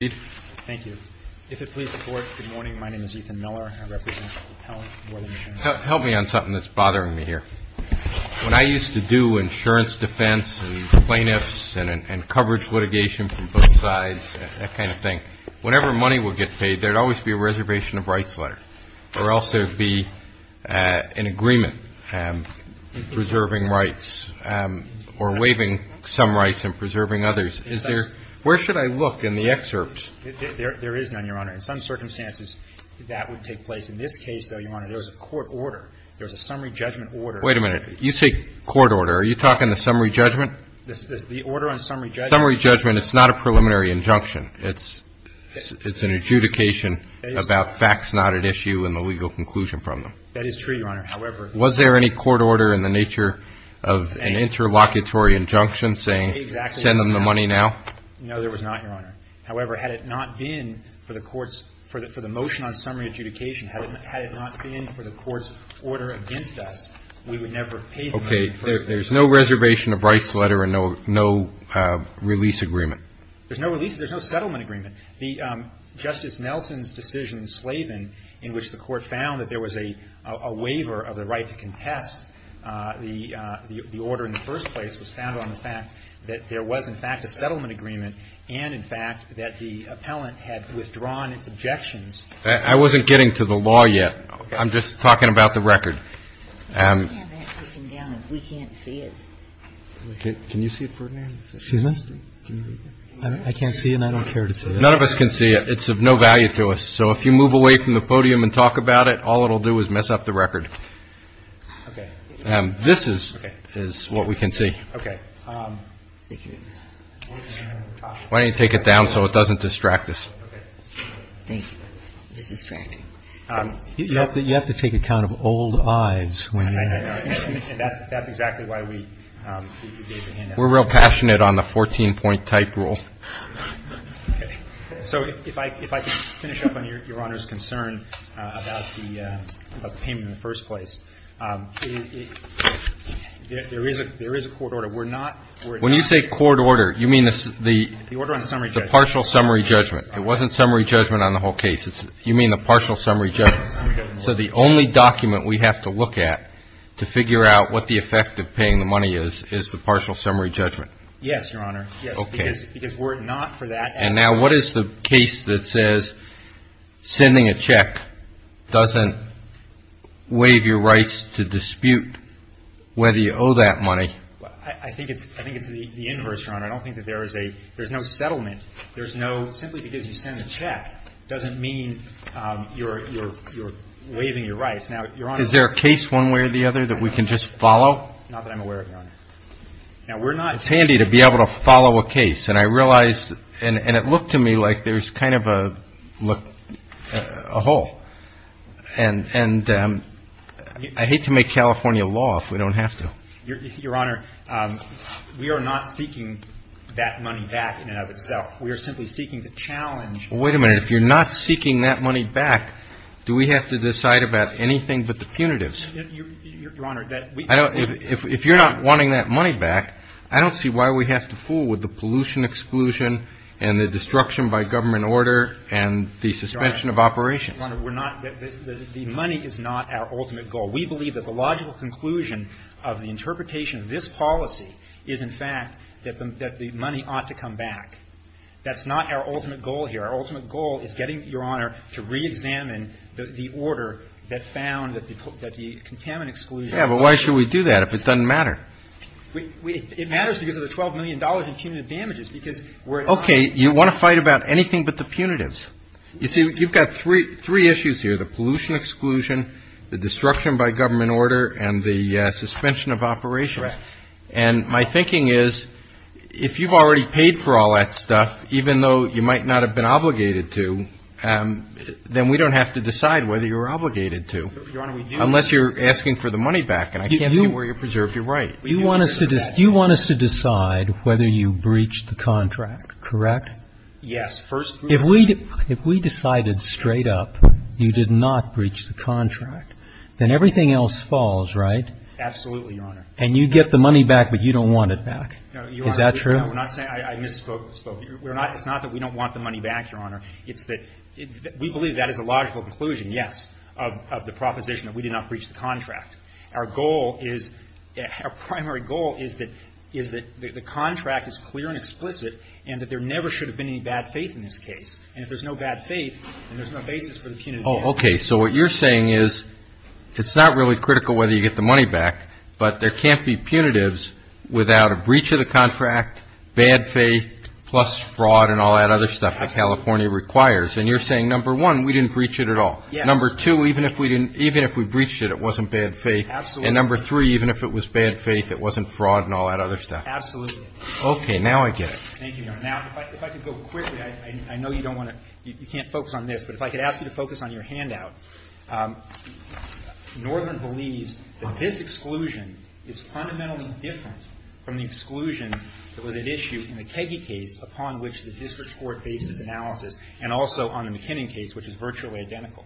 Thank you. If it pleases the Board, good morning. My name is Ethan Miller. I represent the Department of Health and Welfare. Help me on something that's bothering me here. When I used to do insurance defense and plaintiffs and coverage litigation from both sides, that kind of thing, whenever money would get paid, there would always be a reservation of rights letter, or else there would be an agreement preserving rights or waiving some rights and preserving others. Is there – where should I look in the excerpt? There is none, Your Honor. In some circumstances, that would take place. In this case, though, Your Honor, there was a court order. There was a summary judgment order. Wait a minute. You say court order. Are you talking the summary judgment? The order on summary judgment. Summary judgment. It's not a preliminary injunction. It's an adjudication about facts not at issue and the legal conclusion from them. That is true, Your Honor. However – Was there any court order in the nature of an interlocutory injunction saying – No, there was not, Your Honor. However, had it not been for the court's – for the motion on summary adjudication, had it not been for the court's order against us, we would never have paid the money. Okay. There's no reservation of rights letter and no release agreement. There's no release – there's no settlement agreement. Justice Nelson's decision in Slavin in which the court found that there was a waiver of the right to contest the order in the first place was founded on the fact that there was, in fact, a settlement agreement and, in fact, that the appellant had withdrawn its objections. I wasn't getting to the law yet. I'm just talking about the record. We can't see it. Can you see it, Ferdinand? Excuse me? I can't see it and I don't care to see it. None of us can see it. It's of no value to us. So if you move away from the podium and talk about it, all it will do is mess up the record. Okay. This is what we can see. Okay. Why don't you take it down so it doesn't distract us? Thank you. It's distracting. You have to take account of old eyes when you – I know. That's exactly why we gave the handout. We're real passionate on the 14-point type rule. Okay. So if I can finish up on Your Honor's concern about the payment in the first place. There is a court order. When you say court order, you mean the partial summary judgment. It wasn't summary judgment on the whole case. You mean the partial summary judgment. So the only document we have to look at to figure out what the effect of paying the money is, is the partial summary judgment. Yes, Your Honor. Okay. Because we're not for that. And now what is the case that says sending a check doesn't waive your rights to dispute whether you owe that money? I think it's the inverse, Your Honor. I don't think that there is a – there's no settlement. There's no – simply because you send a check doesn't mean you're waiving your rights. Now, Your Honor – Is there a case one way or the other that we can just follow? Not that I'm aware of, Your Honor. Now, we're not – And it looked to me like there's kind of a hole. And I hate to make California law if we don't have to. Your Honor, we are not seeking that money back in and of itself. We are simply seeking to challenge – Well, wait a minute. If you're not seeking that money back, do we have to decide about anything but the punitives? Your Honor, that – I don't – if you're not wanting that money back, I don't see why we have to fool with the pollution exclusion and the destruction by government order and the suspension of operations. Your Honor, we're not – the money is not our ultimate goal. We believe that the logical conclusion of the interpretation of this policy is, in fact, that the money ought to come back. That's not our ultimate goal here. Our ultimate goal is getting, Your Honor, to reexamine the order that found that the contaminant exclusion – Yeah, but why should we do that if it doesn't matter? It matters because of the $12 million in punitive damages because we're – Okay. You want to fight about anything but the punitives. You see, you've got three issues here, the pollution exclusion, the destruction by government order, and the suspension of operations. Correct. And my thinking is if you've already paid for all that stuff, even though you might not have been obligated to, then we don't have to decide whether you're obligated to. Your Honor, we do. I'm asking for the money back, and I can't see where you preserve your right. You want us to decide whether you breached the contract, correct? Yes. If we decided straight up you did not breach the contract, then everything else falls, right? Absolutely, Your Honor. And you get the money back, but you don't want it back. No, Your Honor. Is that true? We're not saying – I misspoke. It's not that we don't want the money back, Your Honor. It's that we believe that is a logical conclusion, yes, of the proposition that we did not breach the contract. Our goal is – our primary goal is that the contract is clear and explicit and that there never should have been any bad faith in this case. And if there's no bad faith, then there's no basis for the punitive damages. Oh, okay. So what you're saying is it's not really critical whether you get the money back, but there can't be punitives without a breach of the contract, bad faith, plus fraud and all that other stuff that California requires. And you're saying, number one, we didn't breach it at all. Yes. Number two, even if we didn't – even if we breached it, it wasn't bad faith. Absolutely. And number three, even if it was bad faith, it wasn't fraud and all that other stuff. Absolutely. Okay. Now I get it. Thank you, Your Honor. Now, if I could go quickly, I know you don't want to – you can't focus on this, but if I could ask you to focus on your handout. Northern believes that this exclusion is fundamentally different from the exclusion that was at issue in the Keggy case upon which the district court based its analysis and also on the McKinnon case, which is virtually identical.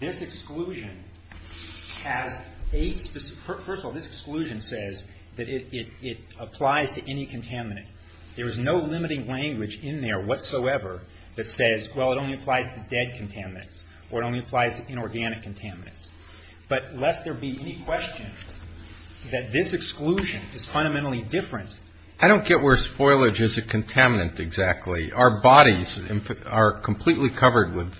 This exclusion has eight – first of all, this exclusion says that it applies to any contaminant. There is no limiting language in there whatsoever that says, well, it only applies to dead contaminants or it only applies to inorganic contaminants. But lest there be any question that this exclusion is fundamentally different. I don't get where spoilage is a contaminant exactly. Our bodies are completely covered with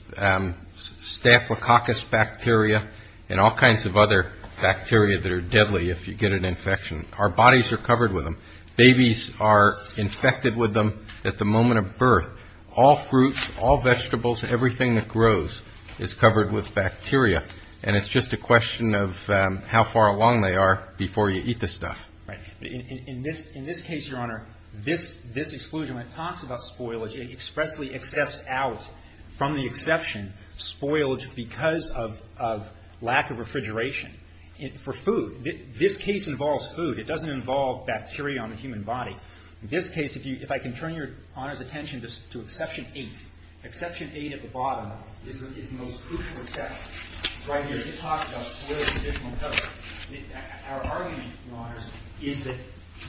staphylococcus bacteria and all kinds of other bacteria that are deadly if you get an infection. Our bodies are covered with them. Babies are infected with them at the moment of birth. All fruits, all vegetables, everything that grows is covered with bacteria. And it's just a question of how far along they are before you eat the stuff. Right. In this case, Your Honor, this exclusion, when it talks about spoilage, it expressly accepts out from the exception spoilage because of lack of refrigeration. For food. This case involves food. It doesn't involve bacteria on the human body. In this case, if I can turn Your Honor's attention to Exception 8. Exception 8 at the bottom is the most crucial exception. Right here, it talks about spoilage and additional coverage. Our argument, Your Honors, is that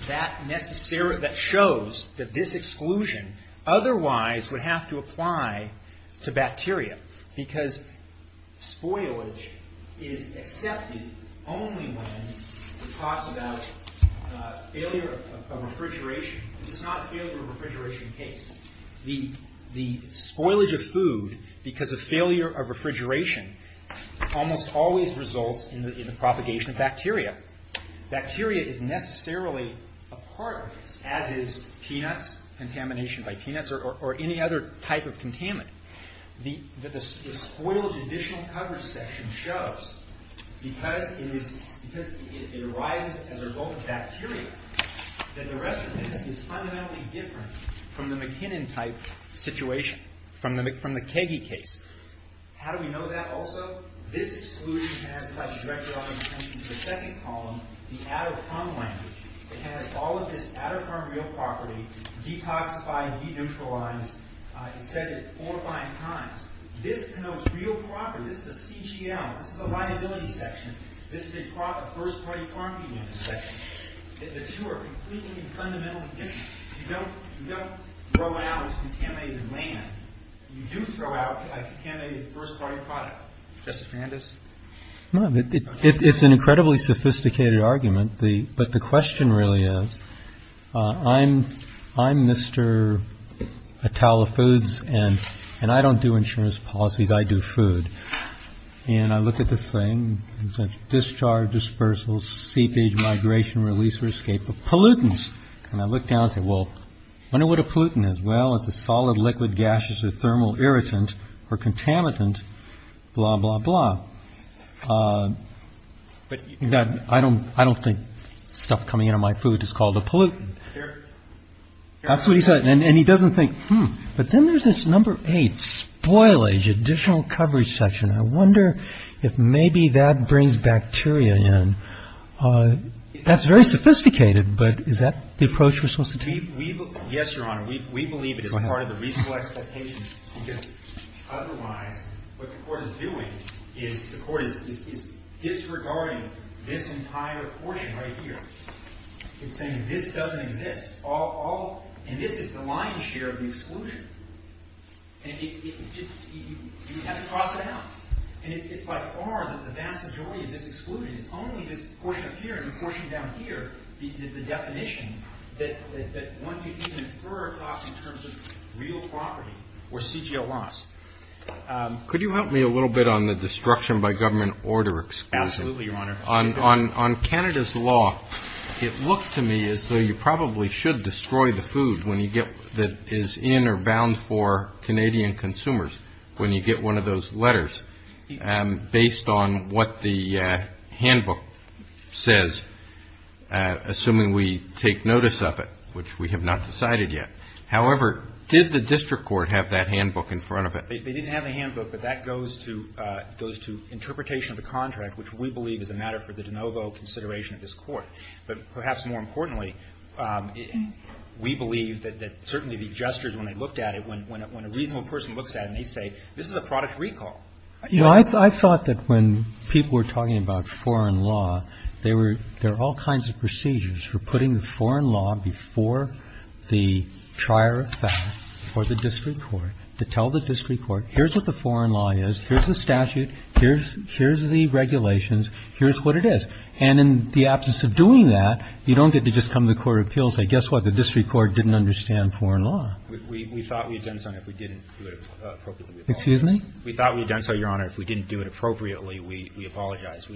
that shows that this exclusion otherwise would have to apply to bacteria because spoilage is accepted only when it talks about failure of refrigeration. This is not a failure of refrigeration case. The spoilage of food because of failure of refrigeration almost always results in the propagation of bacteria. Bacteria is necessarily a part of this, as is peanuts, contamination by peanuts, or any other type of contaminant. The spoilage additional coverage section shows, because it arises as a result of bacteria, that the rest of this is fundamentally different from the McKinnon type situation, from the Keggy case. How do we know that also? This exclusion has, if I can direct Your Honor's attention to the second column, the out of farm land. It has all of this out of farm real property detoxified, de-neutralized. It says it four or five times. This denotes real property. This is a CGL. This is a liability section. This is a first-party property section. The two are completely and fundamentally different. You don't throw out contaminated land. You do throw out a contaminated first-party product. Mr. Fandis? It's an incredibly sophisticated argument, but the question really is, I'm Mr. A Towel of Foods, and I don't do insurance policies. I do food. And I look at this thing. Discharge, dispersals, seepage, migration, release or escape of pollutants. And I look down and say, well, I wonder what a pollutant is. Well, it's a solid, liquid, gaseous or thermal irritant or contaminant, blah, blah, blah. But I don't think stuff coming out of my food is called a pollutant. That's what he said. And he doesn't think, hmm. But then there's this number eight, spoilage, additional coverage section. I wonder if maybe that brings bacteria in. That's very sophisticated, but is that the approach we're supposed to take? Yes, Your Honor. We believe it is part of the reasonable expectation because otherwise what the court is doing is the court is disregarding this entire portion right here. It's saying this doesn't exist. And this is the lion's share of the exclusion. And you have to cross it out. And it's by far the vast majority of this exclusion. It's only this portion up here and the portion down here, the definition that one could infer across in terms of real property or CGL loss. Could you help me a little bit on the destruction by government order exclusion? Absolutely, Your Honor. On Canada's law, it looked to me as though you probably should destroy the food that is in or bound for Canadian consumers when you get one of those letters. Based on what the handbook says, assuming we take notice of it, which we have not decided yet. However, did the district court have that handbook in front of it? They didn't have the handbook, but that goes to interpretation of the contract, which we believe is a matter for the de novo consideration of this court. But perhaps more importantly, we believe that certainly the adjusters, when they looked at it, when a reasonable person looks at it and they say, this is a product recall. I thought that when people were talking about foreign law, there are all kinds of procedures for putting the foreign law before the trier of fact or the district court to tell the district court, here's what the foreign law is. Here's the statute. Here's the regulations. Here's what it is. And in the absence of doing that, you don't get to just come to the court of appeals and say, guess what, the district court didn't understand foreign law. We thought we had done so, and if we didn't do it appropriately, we apologize. Excuse me? We thought we had done so, Your Honor. If we didn't do it appropriately, we apologize.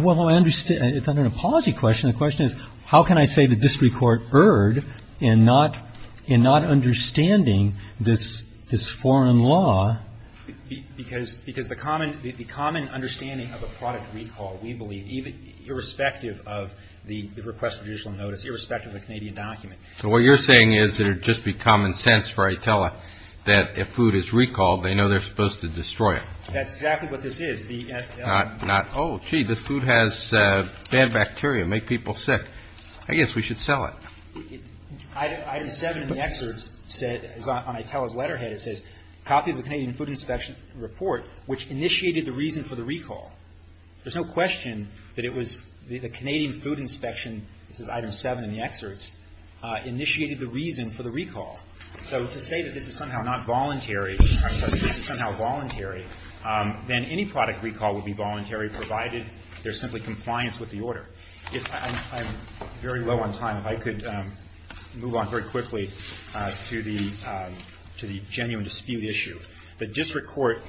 Well, I understand. It's not an apology question. The question is, how can I say the district court erred in not understanding this foreign law? Because the common understanding of a product recall, we believe, irrespective of the request for judicial notice, irrespective of the Canadian document. So what you're saying is that it would just be common sense for ITELA that if food is recalled, they know they're supposed to destroy it. That's exactly what this is. Not, oh, gee, this food has bad bacteria, make people sick. I guess we should sell it. Item 7 in the excerpt said, on ITELA's letterhead, it says, copy of the Canadian Food Inspection Report, which initiated the reason for the recall. There's no question that it was the Canadian Food Inspection, this is item 7 in the excerpts, initiated the reason for the recall. So to say that this is somehow not voluntary, this is somehow voluntary, then any product recall would be voluntary provided there's simply compliance with the order. I'm very low on time. If I could move on very quickly to the genuine dispute issue. The district court,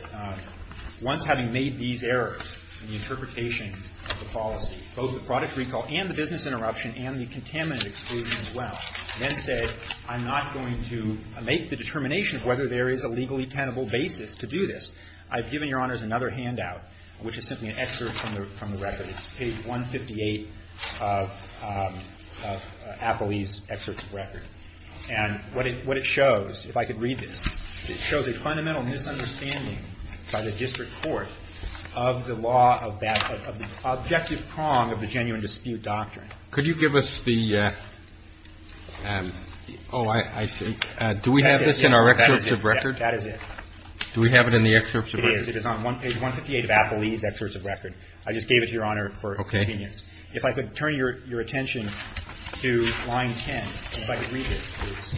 once having made these errors in the interpretation of the policy, both the product recall and the business interruption and the contaminant exclusion as well, then said, I'm not going to make the determination of whether there is a legally tenable basis to do this. I've given Your Honors another handout, which is simply an excerpt from the record. It's page 158 of Appley's excerpt from the record. And what it shows, if I could read this, it shows a fundamental misunderstanding by the district court of the law of that, of the objective prong of the genuine dispute doctrine. Could you give us the, oh, I see. Do we have this in our excerpts of record? That is it. Do we have it in the excerpts of record? It is. It is on page 158 of Appley's excerpts of record. I just gave it to Your Honor for convenience. Okay. If I could turn your attention to line 10, if I could read this, please.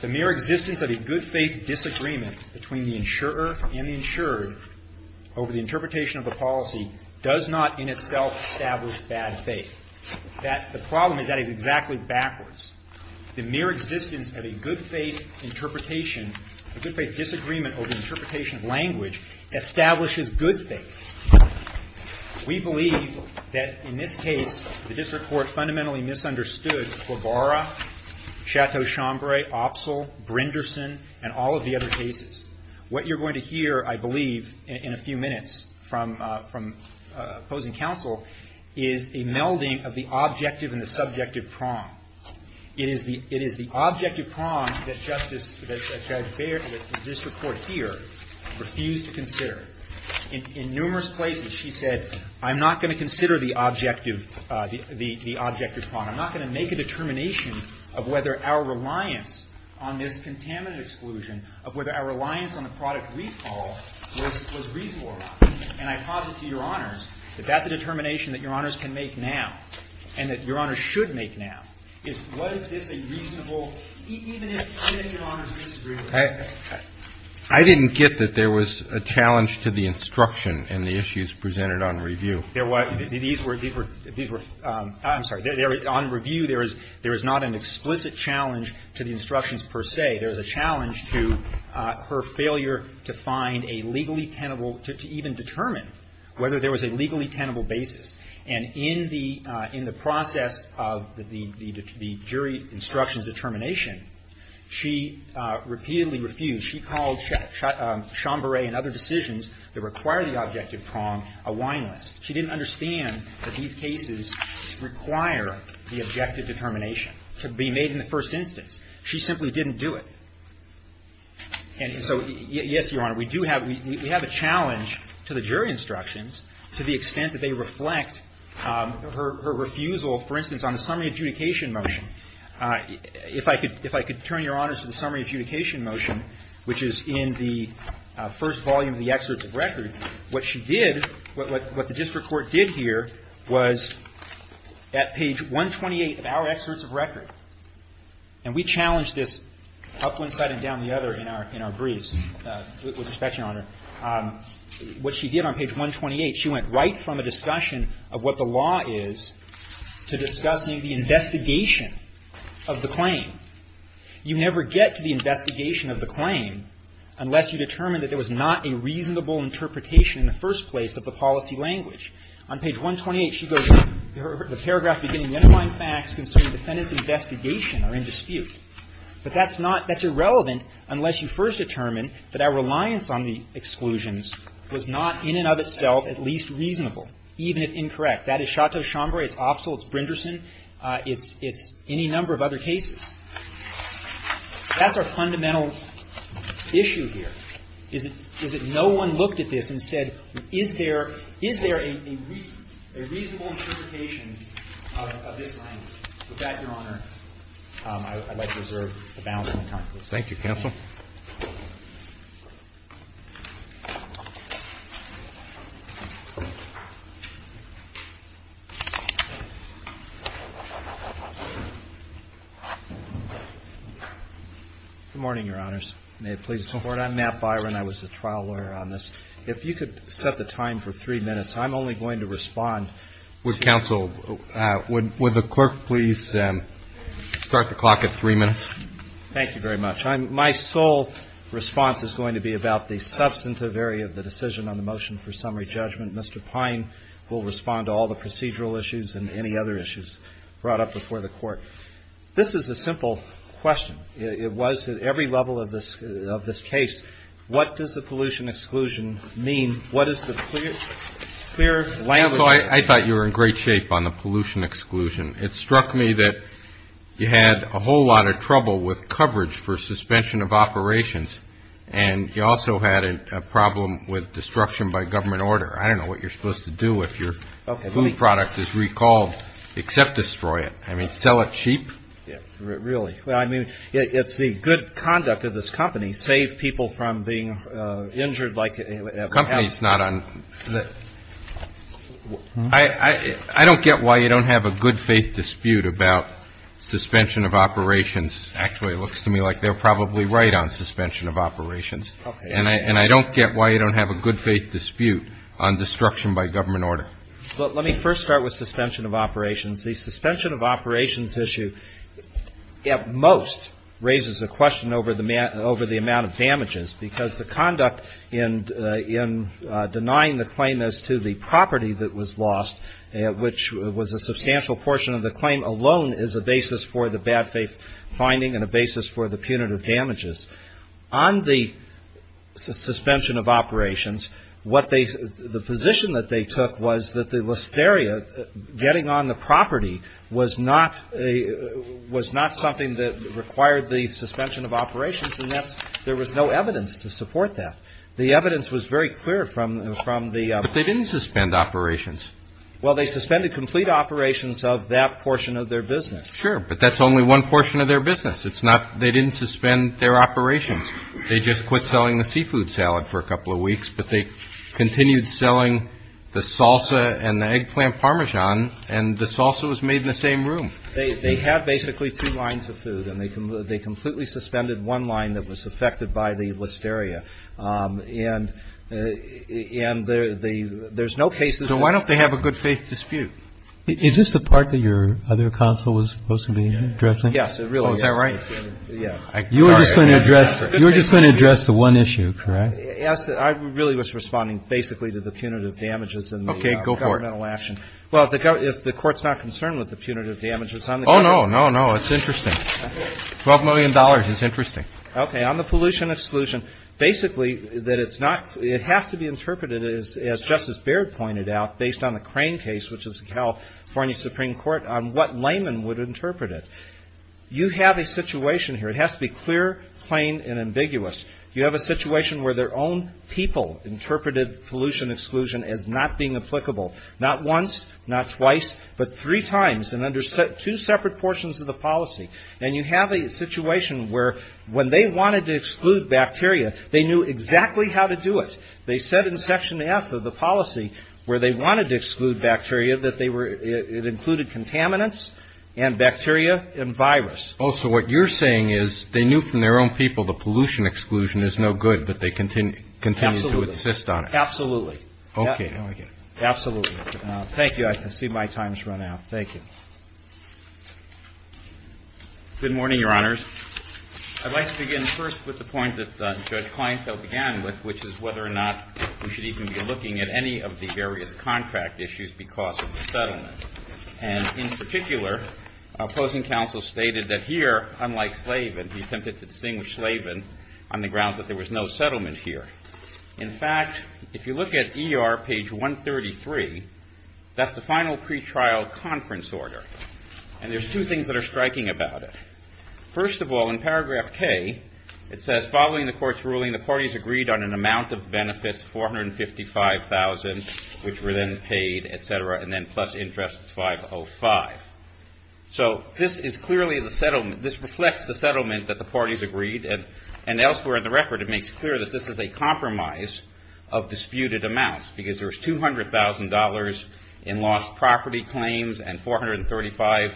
The mere existence of a good-faith disagreement between the insurer and the insured over the interpretation of the policy does not in itself establish bad faith. That, the problem is that is exactly backwards. The mere existence of a good-faith interpretation, a good-faith disagreement over the interpretation of language establishes good faith. We believe that, in this case, the district court fundamentally misunderstood Klobara, Chateau-Chambray, Opsel, Brinderson, and all of the other cases. What you're going to hear, I believe, in a few minutes from opposing counsel is a melding of the objective and the subjective prong. It is the objective prong that Justice, that Judge Baird, that the district court here refused to consider. In numerous places, she said, I'm not going to consider the objective prong. I'm not going to make a determination of whether our reliance on this contaminant exclusion, of whether our reliance on the product recall was reasonable or not. And I posit to Your Honors that that's a determination that Your Honors can make now and that Your Honors should make now. Was this a reasonable, even if Your Honors disagreed with it? I didn't get that there was a challenge to the instruction in the issues presented on review. These were, these were, I'm sorry, on review, there is not an explicit challenge to the instructions, per se. There is a challenge to her failure to find a legally tenable, to even determine whether there was a legally tenable basis. And in the process of the jury instructions determination, she repeatedly refused. She called Chamburet and other decisions that require the objective prong a whineless. She didn't understand that these cases require the objective determination to be made in the first instance. She simply didn't do it. And so, yes, Your Honor, we do have, we have a challenge to the jury instructions to the extent that they reflect her refusal, for instance, on the summary adjudication motion. If I could turn, Your Honors, to the summary adjudication motion, which is in the first volume of the excerpts of record, what she did, what the district court did here was, at page 128 of our excerpts of record, and we challenged this up one side and down the other in our briefs with respect, Your Honor. What she did on page 128, she went right from a discussion of what the law is to discussing the investigation of the claim. You never get to the investigation of the claim unless you determine that there was not a reasonable interpretation in the first place of the policy language. On page 128, she goes, the paragraph beginning with the underlying facts concerning defendant's investigation are in dispute. But that's not, that's irrelevant unless you first determine that our reliance on the exclusions was not in and of itself at least reasonable, even if incorrect. That is Chateau-Chambray, it's Offsull, it's Brinderson, it's any number of other cases. That's our fundamental issue here, is that no one looked at this and said, is there a reasonable interpretation of this language? With that, Your Honor, I would like to reserve the balance of my time. Thank you, counsel. Good morning, Your Honors. May it please the Court? I'm Nat Byron. I was the trial lawyer on this. If you could set the time for three minutes, I'm only going to respond. Would counsel, would the clerk please start the clock at three minutes? Thank you very much. My sole response is going to be about the substantive area of the decision on the motion for summary judgment. Mr. Pine will respond to all the procedural issues and any other issues brought up before the Court. This is a simple question. It was at every level of this case. What does the pollution exclusion mean? What is the clear language? Counsel, I thought you were in great shape on the pollution exclusion. It struck me that you had a whole lot of trouble with coverage for suspension of operations, and you also had a problem with destruction by government order. I don't know what you're supposed to do if your food product is recalled except destroy it. I mean, sell it cheap? Really? Well, I mean, it's the good conduct of this company, save people from being injured like they have. I don't get why you don't have a good faith dispute about suspension of operations. Actually, it looks to me like they're probably right on suspension of operations. And I don't get why you don't have a good faith dispute on destruction by government order. Well, let me first start with suspension of operations. The suspension of operations issue at most raises a question over the amount of damages, because the conduct in denying the claim as to the property that was lost, which was a substantial portion of the claim alone, is a basis for the bad faith finding and a basis for the punitive damages. On the suspension of operations, what they the position that they took was that the listeria getting on the property was not something that required the suspension of operations, and there was no evidence to support that. The evidence was very clear from the- But they didn't suspend operations. Well, they suspended complete operations of that portion of their business. Sure, but that's only one portion of their business. They didn't suspend their operations. They just quit selling the seafood salad for a couple of weeks, but they continued selling the salsa and the eggplant parmesan, and the salsa was made in the same room. They have basically two lines of food, and they completely suspended one line that was affected by the listeria. And there's no cases- So why don't they have a good faith dispute? Is this the part that your other counsel was supposed to be addressing? Yes, it really is. Oh, is that right? Yes. You were just going to address the one issue, correct? Okay. Go for it. Well, if the Court's not concerned with the punitive damages on the- Oh, no, no, no. It's interesting. $12 million is interesting. Okay. On the pollution exclusion, basically, it has to be interpreted, as Justice Baird pointed out, based on the Crane case, which is the California Supreme Court, on what layman would interpret it. You have a situation here. It has to be clear, plain, and ambiguous. You have a situation where their own people interpreted pollution exclusion as not being applicable. Not once, not twice, but three times, and under two separate portions of the policy. And you have a situation where, when they wanted to exclude bacteria, they knew exactly how to do it. They said in Section F of the policy, where they wanted to exclude bacteria, that they were- it included contaminants and bacteria and virus. Oh, so what you're saying is they knew from their own people the pollution exclusion is no good, but they continued to insist on it. Absolutely. Okay. Absolutely. Thank you. I see my time has run out. Thank you. Good morning, Your Honors. I'd like to begin first with the point that Judge Kleinfeld began with, which is whether or not we should even be looking at any of the various contract issues because of the settlement. And in particular, opposing counsel stated that here, unlike Slavin, he attempted to distinguish Slavin on the grounds that there was no settlement here. In fact, if you look at ER page 133, that's the final pretrial conference order, and there's two things that are striking about it. First of all, in paragraph K, it says, following the court's ruling, the parties agreed on an amount of benefits, $455,000, which were then paid, et cetera, and then plus interest, $505,000. So this is clearly the settlement. This reflects the settlement that the parties agreed, and elsewhere in the record, it makes clear that this is a compromise of disputed amounts because there was $200,000 in lost property claims and $435,000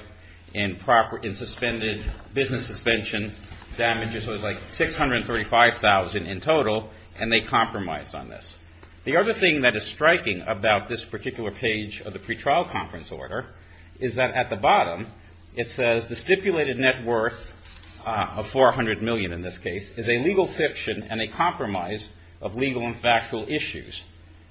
in suspended business suspension damages. So there's like $635,000 in total, and they compromised on this. The other thing that is striking about this particular page of the pretrial conference order is that at the bottom, it says the stipulated net worth of $400,000,000 in this case, is a legal fiction and a compromise of legal and factual issues.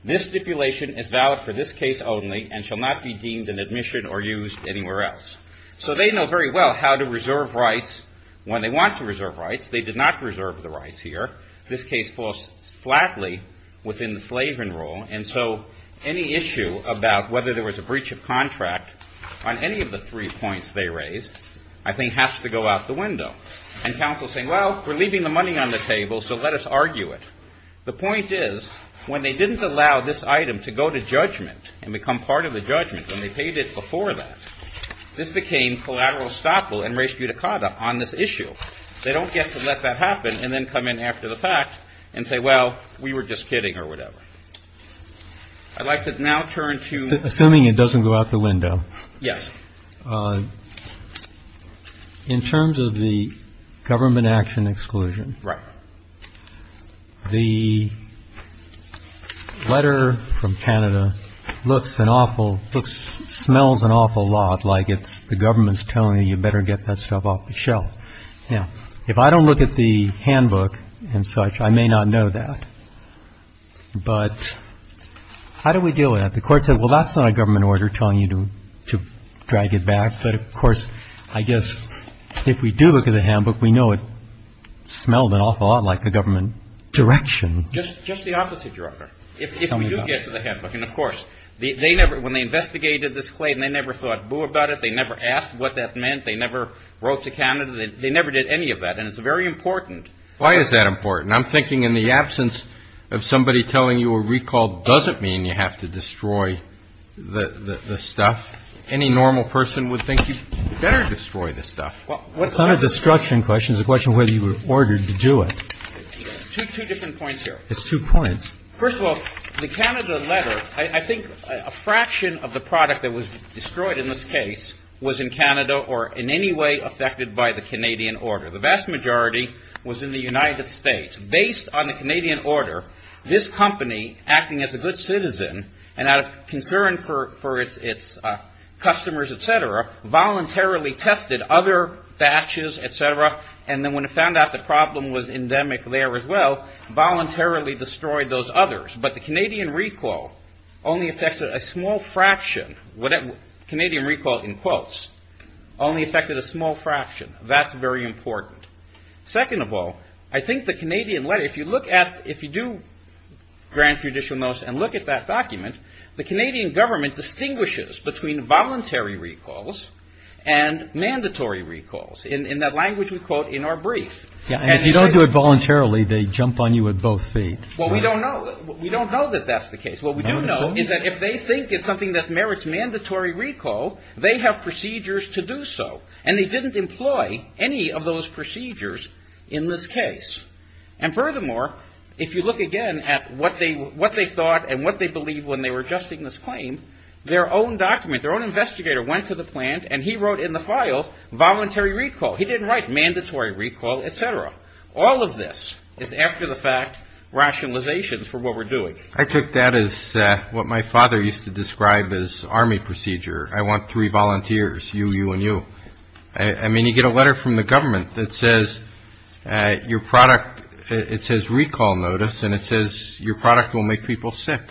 This stipulation is valid for this case only and shall not be deemed in admission or used anywhere else. So they know very well how to reserve rights when they want to reserve rights. They did not reserve the rights here. This case falls flatly within the Slavin rule, and so any issue about whether there was a breach of contract on any of the three points they raised, I think, has to go out the window. And counsel is saying, well, we're leaving the money on the table, so let us argue it. The point is, when they didn't allow this item to go to judgment and become part of the judgment, when they paid it before that, this became collateral estoppel and res judicata on this issue. They don't get to let that happen and then come in after the fact and say, well, we were just kidding or whatever. I'd like to now turn to. Assuming it doesn't go out the window. Yes. In terms of the government action exclusion. Right. The letter from Canada looks an awful, smells an awful lot like it's the government's telling you you better get that stuff off the shelf. Now, if I don't look at the handbook and such, I may not know that. But how do we deal with that? The court said, well, that's not a government order telling you to drag it back. But, of course, I guess if we do look at the handbook, we know it smelled an awful lot like the government direction. Just the opposite, Your Honor. If we do get to the handbook, and, of course, they never, when they investigated this claim, they never thought boo about it. They never asked what that meant. They never wrote to Canada. They never did any of that. And it's very important. Why is that important? I'm thinking in the absence of somebody telling you a recall doesn't mean you have to destroy the stuff. Any normal person would think you better destroy the stuff. It's not a destruction question. It's a question of whether you were ordered to do it. Two different points here. It's two points. First of all, the Canada letter, I think a fraction of the product that was destroyed in this case was in Canada or in any way affected by the Canadian order. The vast majority was in the United States. Based on the Canadian order, this company, acting as a good citizen and out of concern for its customers, et cetera, voluntarily tested other batches, et cetera, and then when it found out the problem was endemic there as well, voluntarily destroyed those others. But the Canadian recall only affected a small fraction. Canadian recall, in quotes, only affected a small fraction. That's very important. Second of all, I think the Canadian letter, if you look at, if you do grant judicial notice and look at that document, the Canadian government distinguishes between voluntary recalls and mandatory recalls. In that language we quote in our brief. And if you don't do it voluntarily, they jump on you at both feet. Well, we don't know that that's the case. What we do know is that if they think it's something that merits mandatory recall, they have procedures to do so. And they didn't employ any of those procedures in this case. And furthermore, if you look again at what they thought and what they believed when they were adjusting this claim, their own document, their own investigator went to the plant and he wrote in the file voluntary recall. He didn't write mandatory recall, et cetera. All of this is after the fact rationalizations for what we're doing. I take that as what my father used to describe as army procedure. I want three volunteers, you, you, and you. I mean, you get a letter from the government that says your product, it says recall notice, and it says your product will make people sick.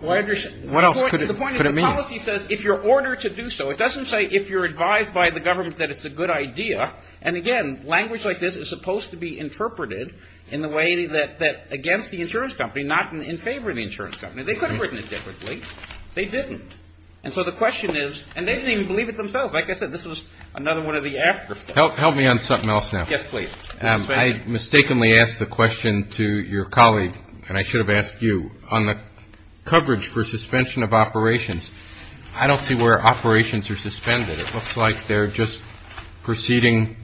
What else could it mean? The point is the policy says if you're ordered to do so. It doesn't say if you're advised by the government that it's a good idea. And, again, language like this is supposed to be interpreted in the way that against the insurance company, not in favor of the insurance company. They could have written it differently. They didn't. And so the question is, and they didn't even believe it themselves. Like I said, this was another one of the after thoughts. Help me on something else now. Yes, please. I mistakenly asked the question to your colleague, and I should have asked you, on the coverage for suspension of operations. I don't see where operations are suspended. It looks like they're just proceeding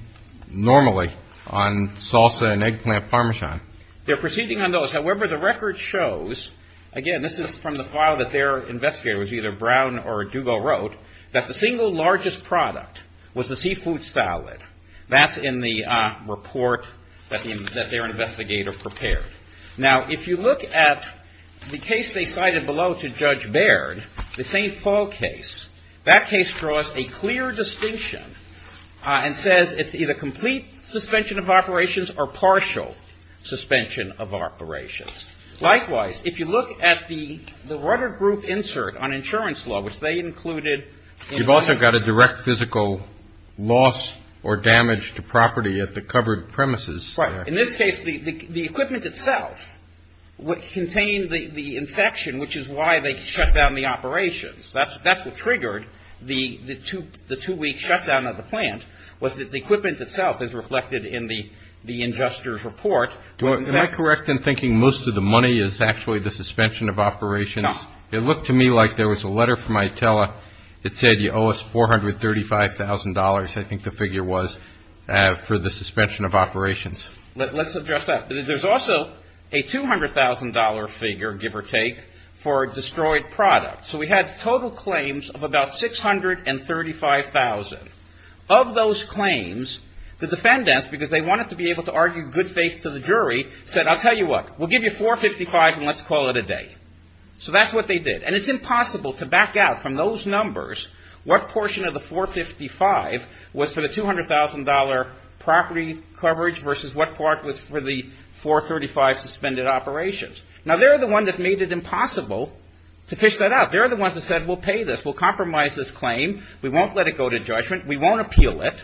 normally on salsa and eggplant parmesan. They're proceeding on those. However, the record shows, again, this is from the file that their investigator was either Brown or Dugo wrote, that the single largest product was the seafood salad. That's in the report that their investigator prepared. Now, if you look at the case they cited below to Judge Baird, the St. Paul case, that case draws a clear distinction and says it's either complete suspension of operations or partial suspension of operations. Likewise, if you look at the rudder group insert on insurance law, which they included. You've also got a direct physical loss or damage to property at the covered premises. Right. In this case, the equipment itself contained the infection, which is why they shut down the operations. That's what triggered the two-week shutdown of the plant, was that the equipment itself is reflected in the injustice report. Am I correct in thinking most of the money is actually the suspension of operations? No. It looked to me like there was a letter from ITELA that said you owe us $435,000, I think the figure was, for the suspension of operations. Let's address that. There's also a $200,000 figure, give or take, for destroyed products. So we had total claims of about $635,000. Of those claims, the defendants, because they wanted to be able to argue good faith to the jury, said I'll tell you what, we'll give you $455,000 and let's call it a day. So that's what they did. And it's impossible to back out from those numbers what portion of the $455,000 was for the $200,000 property coverage versus what part was for the $435,000 suspended operations. Now, they're the ones that made it impossible to fish that out. They're the ones that said we'll pay this. We'll compromise this claim. We won't let it go to judgment. We won't appeal it.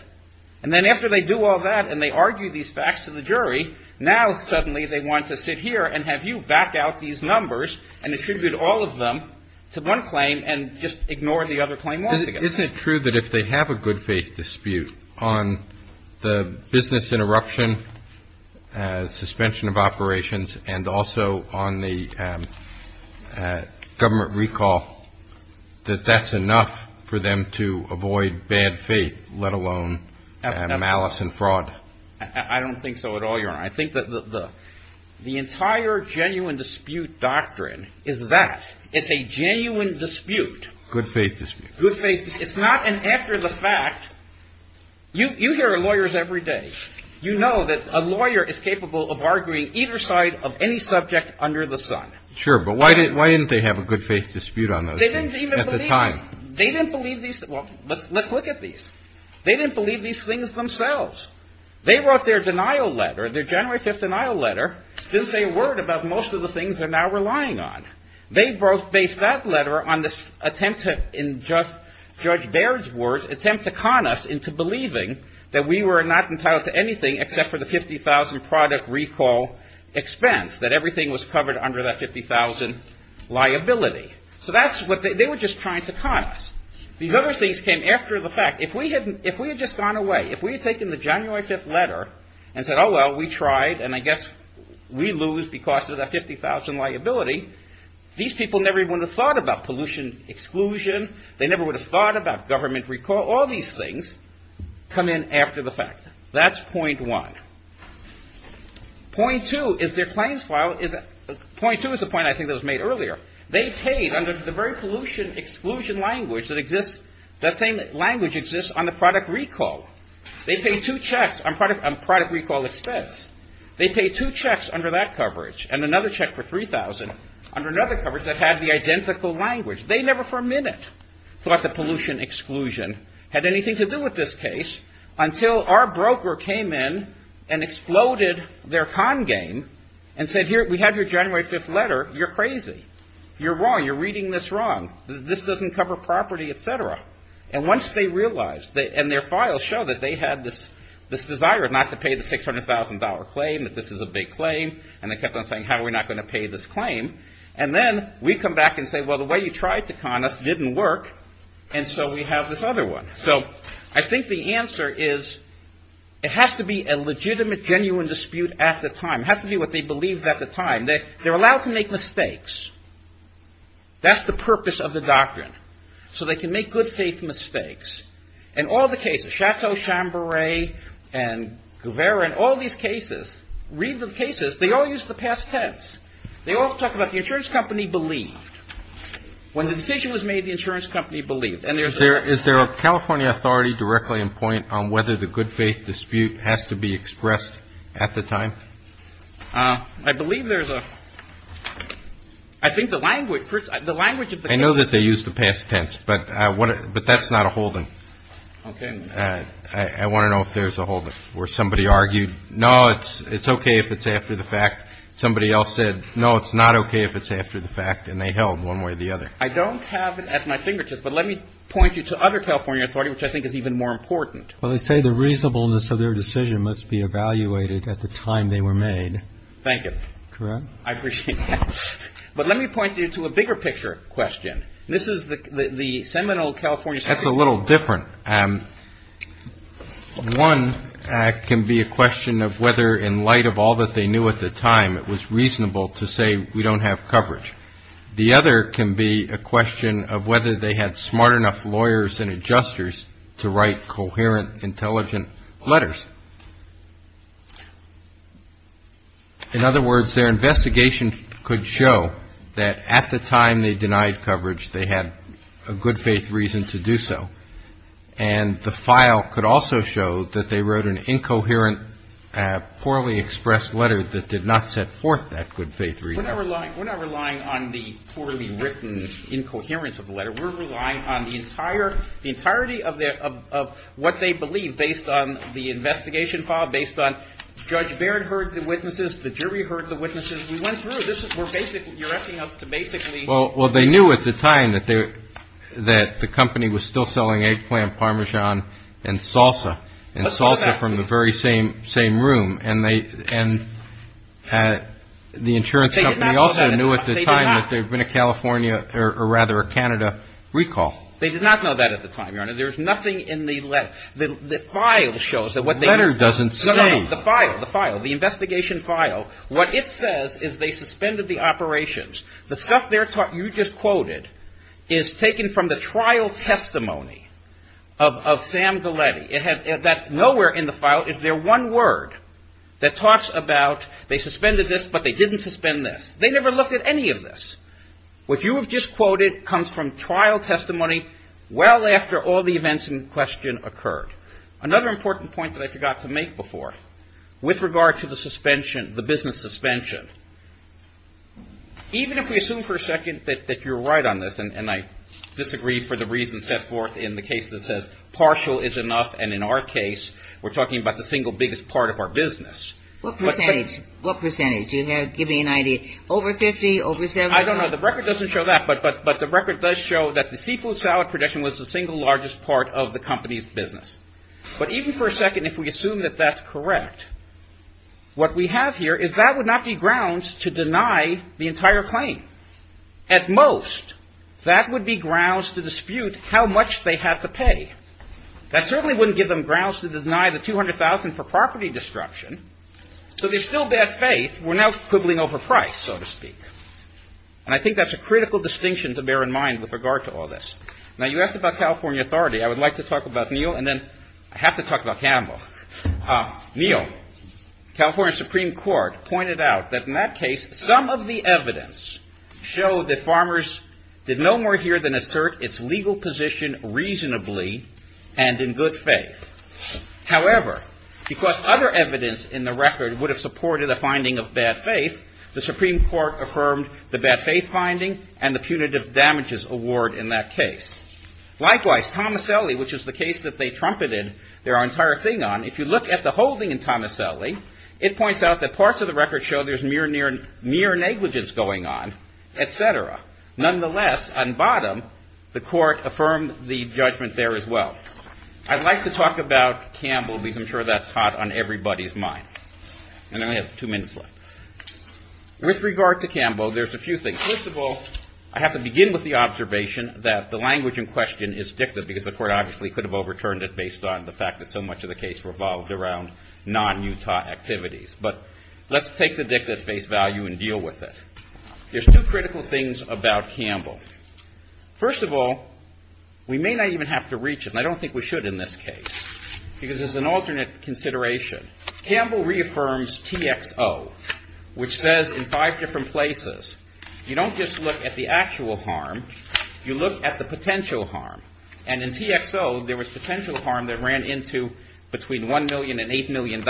And then after they do all that and they argue these facts to the jury, now suddenly they want to sit here and have you back out these numbers and attribute all of them to one claim and just ignore the other claim altogether. Isn't it true that if they have a good faith dispute on the business interruption, suspension of operations and also on the government recall, that that's enough for them to avoid bad faith, let alone malice and fraud? I don't think so at all, Your Honor. I think that the entire genuine dispute doctrine is that. It's a genuine dispute. Good faith dispute. It's not an after the fact. You hear lawyers every day. You know that a lawyer is capable of arguing either side of any subject under the sun. Sure, but why didn't they have a good faith dispute on those things at the time? They didn't believe these. Well, let's look at these. They didn't believe these things themselves. They wrote their denial letter, their January 5th denial letter, didn't say a word about most of the things they're now relying on. They both based that letter on this attempt to, in Judge Baird's words, attempt to con us into believing that we were not entitled to anything except for the 50,000 product recall expense, that everything was covered under that 50,000 liability. So that's what they were just trying to con us. These other things came after the fact. If we had just gone away, if we had taken the January 5th letter and said, oh, well, we tried and I guess we lose because of that 50,000 liability, these people never even would have thought about pollution exclusion. They never would have thought about government recall. All these things come in after the fact. That's point one. Point two is their claims file. Point two is the point I think that was made earlier. They paid under the very pollution exclusion language that exists, that same language exists on the product recall. They paid two checks on product recall expense. They paid two checks under that coverage and another check for 3,000 under another coverage that had the identical language. They never for a minute thought that pollution exclusion had anything to do with this case until our broker came in and exploded their con game and said, here, we have your January 5th letter. You're crazy. You're wrong. You're reading this wrong. This doesn't cover property, et cetera. And once they realized and their files show that they had this desire not to pay the $600,000 claim, that this is a big claim, and they kept on saying, how are we not going to pay this claim? And then we come back and say, well, the way you tried to con us didn't work, and so we have this other one. So I think the answer is it has to be a legitimate, genuine dispute at the time. It has to be what they believed at the time. They're allowed to make mistakes. That's the purpose of the doctrine. So they can make good faith mistakes. In all the cases, Chateau, Chamburey, and Guevara, in all these cases, read the cases, they all use the past tense. They all talk about the insurance company believed. When the decision was made, the insurance company believed. And there's a ---- Is there a California authority directly in point on whether the good faith dispute has to be expressed at the time? I believe there's a ---- I think the language, the language of the ---- I know that they use the past tense, but that's not a holding. Okay. I want to know if there's a holding where somebody argued, no, it's okay if it's after the fact. Somebody else said, no, it's not okay if it's after the fact, and they held one way or the other. I don't have it at my fingertips, but let me point you to other California authority, which I think is even more important. Well, they say the reasonableness of their decision must be evaluated at the time they were made. Thank you. Correct? I appreciate that. But let me point you to a bigger picture question. This is the seminal California ---- That's a little different. One can be a question of whether in light of all that they knew at the time it was reasonable to say we don't have coverage. The other can be a question of whether they had smart enough lawyers and adjusters to write coherent, intelligent letters. In other words, their investigation could show that at the time they denied coverage, they had a good faith reason to do so. And the file could also show that they wrote an incoherent, poorly expressed letter that did not set forth that good faith reason. We're not relying on the poorly written incoherence of the letter. We're relying on the entire ---- the entirety of what they believe based on the investigation file, based on Judge Baird heard the witnesses, the jury heard the witnesses. We went through this. We're basically ---- you're asking us to basically ---- Well, they knew at the time that the company was still selling eggplant, Parmesan and salsa. And salsa from the very same room. And they ---- They did not know that at the time. And the insurance company also knew at the time that there had been a California or rather a Canada recall. They did not know that at the time, Your Honor. There was nothing in the letter. The file shows that what they ---- The letter doesn't say. No, no, the file, the file, the investigation file. What it says is they suspended the operations. The stuff there you just quoted is taken from the trial testimony of Sam Galletti. It had that nowhere in the file is there one word that talks about they suspended this, but they didn't suspend this. They never looked at any of this. What you have just quoted comes from trial testimony well after all the events in question occurred. Another important point that I forgot to make before with regard to the suspension, the business suspension, even if we assume for a second that you're right on this and I disagree for the reason set forth in the case that says partial is enough and in our case we're talking about the single biggest part of our business. What percentage? What percentage? Give me an idea. Over 50? I don't know. The record doesn't show that, but the record does show that the seafood salad production was the single largest part of the company's business. But even for a second if we assume that that's correct, what we have here is that would not be grounds to deny the entire claim. At most, that would be grounds to dispute how much they had to pay. That certainly wouldn't give them grounds to deny the 200,000 for property destruction. So there's still bad faith. We're now quibbling over price, so to speak. And I think that's a critical distinction to bear in mind with regard to all this. Now, you asked about California authority. I would like to talk about Neal and then I have to talk about Campbell. Neal, California Supreme Court, pointed out that in that case some of the evidence showed that farmers did no more here than assert its legal position reasonably and in good faith. However, because other evidence in the record would have supported a finding of bad faith, the Supreme Court affirmed the bad faith finding and the punitive damages award in that case. Likewise, Tomaselli, which is the case that they trumpeted their entire thing on, if you look at the holding in Tomaselli, it points out that parts of the record show there's mere negligence going on, et cetera. Nonetheless, on bottom, the court affirmed the judgment there as well. So I'd like to talk about Campbell because I'm sure that's hot on everybody's mind. And I only have two minutes left. With regard to Campbell, there's a few things. First of all, I have to begin with the observation that the language in question is dictative because the court obviously could have overturned it based on the fact that so much of the case revolved around non-Utah activities. But let's take the dictative face value and deal with it. There's two critical things about Campbell. First of all, we may not even have to reach him. I don't think we should in this case because there's an alternate consideration. Campbell reaffirms TXO, which says in five different places, you don't just look at the actual harm. You look at the potential harm. And in TXO, there was potential harm that ran into between $1 million and $8 million.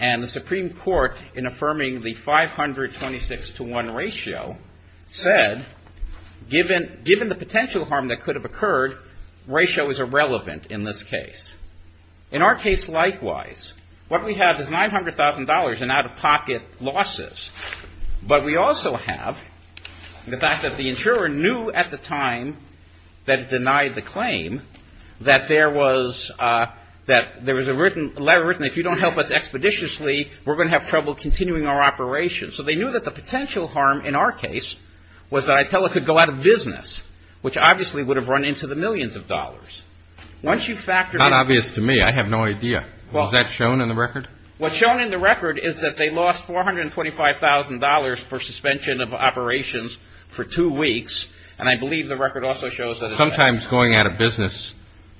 And the Supreme Court, in affirming the 526-to-1 ratio, said given the potential harm that could have occurred, ratio is irrelevant in this case. In our case, likewise, what we have is $900,000 in out-of-pocket losses. But we also have the fact that the insurer knew at the time that it denied the claim that there was a letter written a expeditiously, we're going to have trouble continuing our operation. So they knew that the potential harm in our case was that Itella could go out of business, which obviously would have run into the millions of dollars. Once you factor in the... Not obvious to me. I have no idea. Is that shown in the record? What's shown in the record is that they lost $425,000 for suspension of operations for two weeks. And I believe the record also shows that. Sometimes going out of business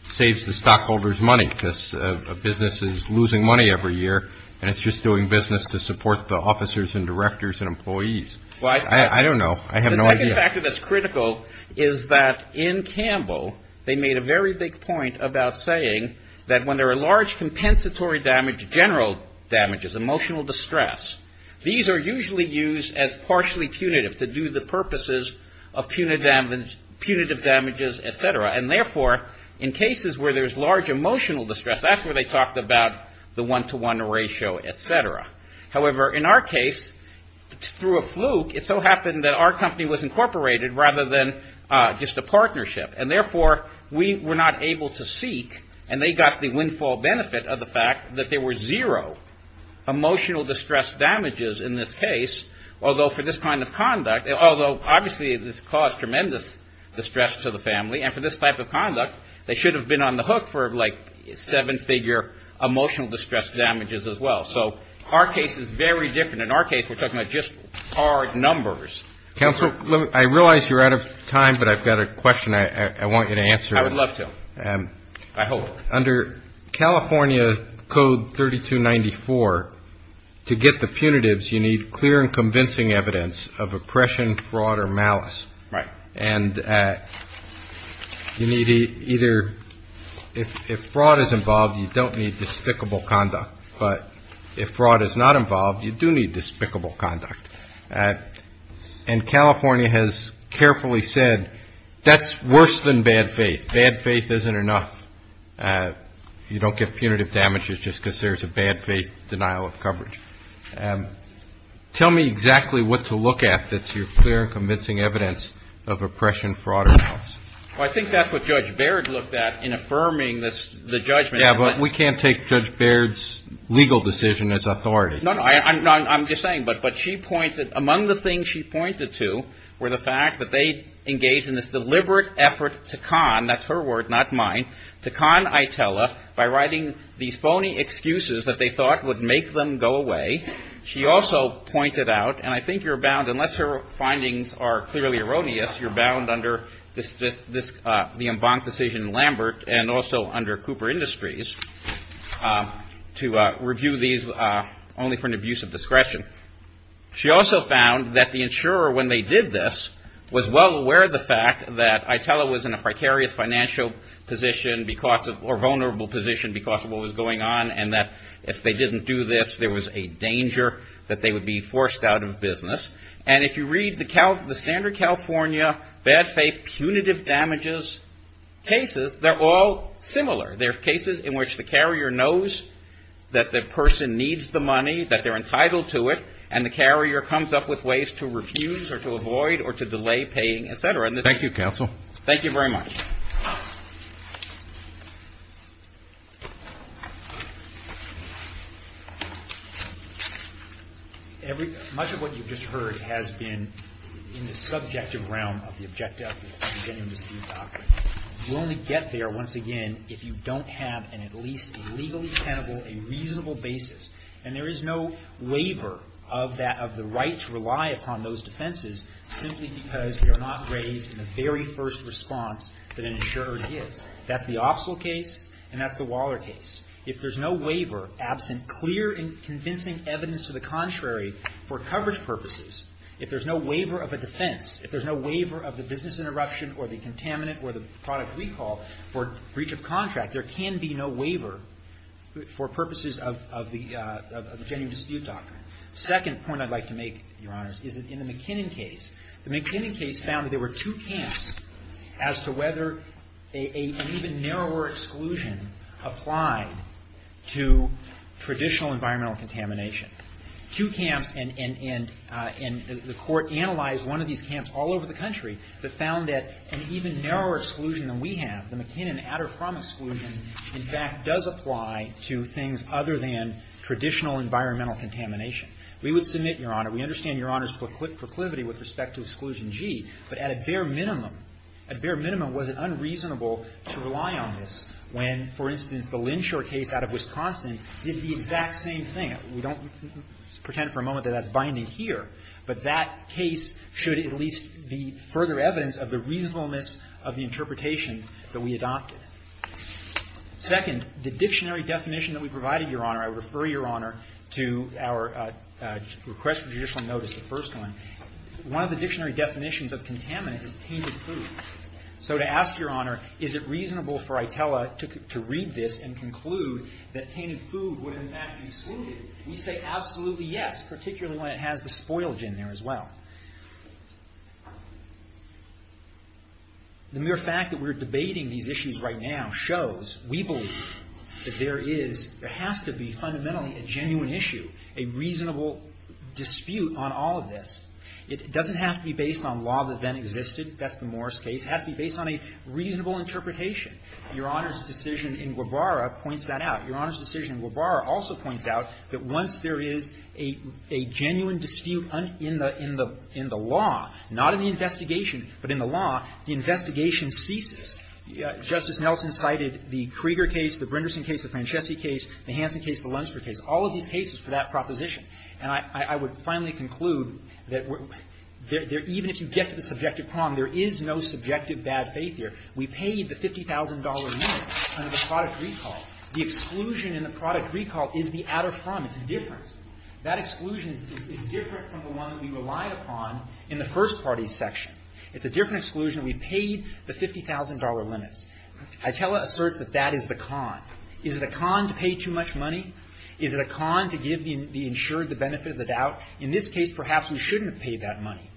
saves the stockholder's money because a business is losing money every year and it's just doing business to support the officers and directors and employees. I don't know. I have no idea. The second factor that's critical is that in Campbell, they made a very big point about saying that when there are large compensatory damage, general damages, emotional distress, these are usually used as partially punitive to do the purposes of punitive damages, et cetera. And therefore, in cases where there's large emotional distress, that's where they talked about the one-to-one ratio, et cetera. However, in our case, through a fluke, it so happened that our company was incorporated rather than just a partnership. And therefore, we were not able to seek, and they got the windfall benefit of the fact that there were zero emotional distress damages in this case, although for this kind of conduct, although obviously this caused tremendous distress to the family, and for this type of conduct, they should have been on the hook for like seven-figure emotional distress damages as well. So our case is very different. In our case, we're talking about just hard numbers. Counsel, I realize you're out of time, but I've got a question I want you to answer. I would love to. I hope. Well, under California Code 3294, to get the punitives, you need clear and convincing evidence of oppression, fraud, or malice. Right. And you need either ñ if fraud is involved, you don't need despicable conduct. But if fraud is not involved, you do need despicable conduct. And California has carefully said that's worse than bad faith. If bad faith isn't enough, you don't get punitive damages just because there's a bad faith denial of coverage. Tell me exactly what to look at that's your clear and convincing evidence of oppression, fraud, or malice. Well, I think that's what Judge Baird looked at in affirming the judgment. Yeah, but we can't take Judge Baird's legal decision as authority. No, no, I'm just saying, but she pointed ñ among the things she pointed to were the fact that they engaged in this deliberate effort to con ñ that's her word, not mine ñ to con ITELA by writing these phony excuses that they thought would make them go away. She also pointed out, and I think you're bound ñ unless her findings are clearly erroneous, you're bound under this ñ the Embank decision in Lambert and also under Cooper Industries to review these only for an abuse of discretion. She also found that the insurer, when they did this, was well aware of the fact that ITELA was in a precarious financial position because of ñ or vulnerable position because of what was going on and that if they didn't do this, there was a danger that they would be forced out of business. And if you read the standard California bad faith punitive damages cases, they're all similar. They're cases in which the carrier knows that the person needs the money, that they're entitled to it, and the carrier comes up with ways to refuse or to avoid or to delay paying, et cetera. Thank you, counsel. Thank you very much. Much of what you've just heard has been in the subjective realm of the objective of the Genuine Dispute Doctrine. You only get there, once again, if you don't have an at least legally tenable, a reasonable basis. And there is no waiver of that ñ of the right to rely upon those defenses simply because they are not raised in the very first response that an insurer gives. That's the Opsel case and that's the Waller case. If there's no waiver absent clear and convincing evidence to the contrary for coverage purposes, if there's no waiver of a defense, if there's no waiver of the business interruption or the contaminant or the product recall for breach of contract, there can be no waiver for purposes of the Genuine Dispute Doctrine. The second point I'd like to make, Your Honors, is that in the McKinnon case, the McKinnon case found that there were two camps as to whether an even narrower exclusion applied to traditional environmental contamination. Two camps, and the Court analyzed one of these camps all over the country that found that an even narrower exclusion than we have, the McKinnon at-or-from exclusion, in fact, does apply to things other than traditional environmental contamination. We would submit, Your Honor, we understand Your Honor's proclivity with respect to Exclusion G, but at a bare minimum, at a bare minimum, was it unreasonable to rely on this when, for instance, the Lynshore case out of Wisconsin did the exact same thing? We don't pretend for a moment that that's binding here, but that case should at least be further evidence of the reasonableness of the interpretation that we adopted. Second, the dictionary definition that we provided, Your Honor, I would refer Your Honor to our request for judicial notice, the first one. One of the dictionary definitions of contaminant is tainted food. So to ask Your Honor, is it reasonable for ITELA to read this and conclude that tainted food would in fact be excluded? We say absolutely yes, particularly when it has the spoilage in there as well. The mere fact that we're debating these issues right now shows we believe that there is, there has to be fundamentally a genuine issue, a reasonable dispute on all of this. It doesn't have to be based on law that then existed. That's the Morris case. It has to be based on a reasonable interpretation. Your Honor's decision in Guevara points that out. Your Honor's decision in Guevara also points out that once there is a genuine dispute in the law, not in the investigation, but in the law, the investigation ceases. Justice Nelson cited the Krieger case, the Brinderson case, the Francesci case, the Hansen case, the Lunsford case, all of these cases for that proposition. And I would finally conclude that even if you get to the subjective problem, there is no subjective bad faith here. We paid the $50,000 limit under the product recall. The exclusion in the product recall is different. That exclusion is different from the one that we relied upon in the first party section. It's a different exclusion. We paid the $50,000 limits. Hytella asserts that that is the con. Is it a con to pay too much money? Is it a con to give the insured the benefit of the doubt? In this case, perhaps we shouldn't have paid that money,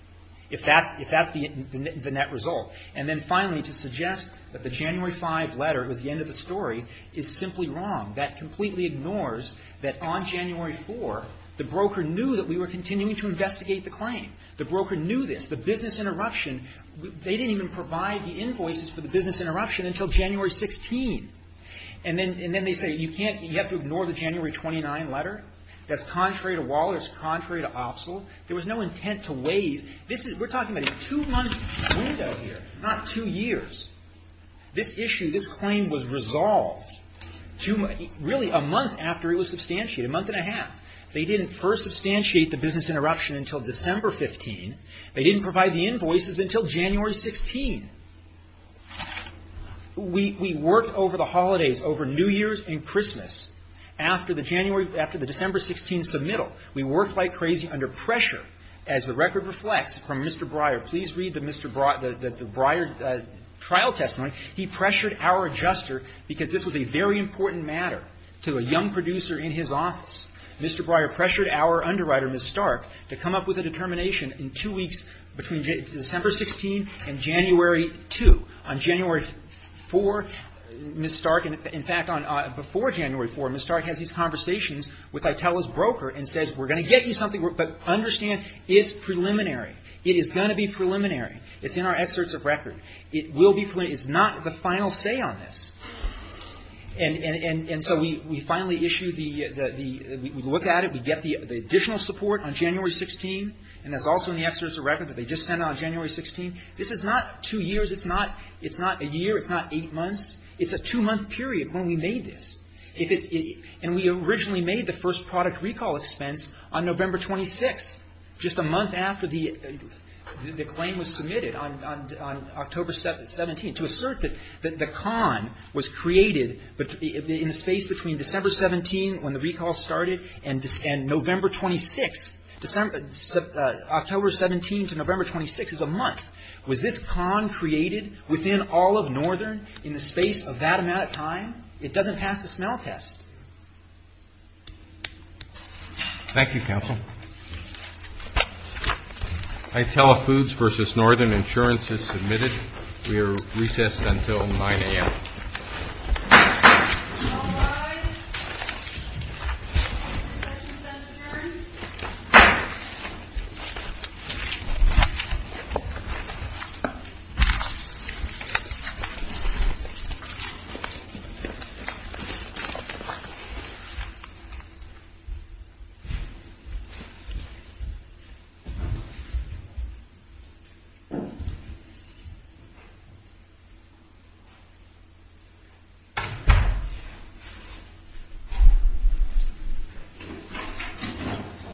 if that's the net result. And then finally, to suggest that the January 5 letter was the end of the story is simply wrong. That completely ignores that on January 4, the broker knew that we were continuing to investigate the claim. The broker knew this. The business interruption, they didn't even provide the invoices for the business interruption until January 16. And then they say you can't, you have to ignore the January 29 letter. That's contrary to Wallace. Contrary to Opsal. There was no intent to waive. We're talking about a two-month window here, not two years. This issue, this claim was resolved really a month after it was substantiated, a month and a half. They didn't first substantiate the business interruption until December 15. They didn't provide the invoices until January 16. We worked over the holidays, over New Year's and Christmas, after the January, after the December 16 submittal. We worked like crazy under pressure, as the record reflects, from Mr. Breyer. Please read the Mr. Breyer trial testimony. He pressured our adjuster, because this was a very important matter, to a young producer in his office. Mr. Breyer pressured our underwriter, Ms. Stark, to come up with a determination in two weeks between December 16 and January 2. On January 4, Ms. Stark, in fact, before January 4, Ms. Stark has these conversations with Italo's broker and says, we're going to get you something, but understand it's preliminary. It is going to be preliminary. It's in our excerpts of record. It will be preliminary. It's not the final say on this. And so we finally issued the, we look at it, we get the additional support on January 16, and that's also in the excerpts of record that they just sent out on January 16. This is not two years. It's not a year. It's not eight months. It's a two-month period when we made this. And we originally made the first product recall expense on November 26, just a month after the claim was submitted on October 17, to assert that the con was created in the space between December 17, when the recall started, and November 26 is a month. Was this con created within all of Northern in the space of that amount of time? It doesn't pass the smell test. Thank you, counsel. Italo Foods versus Northern, insurance is submitted. We are recessed until 9 a.m. Thank you.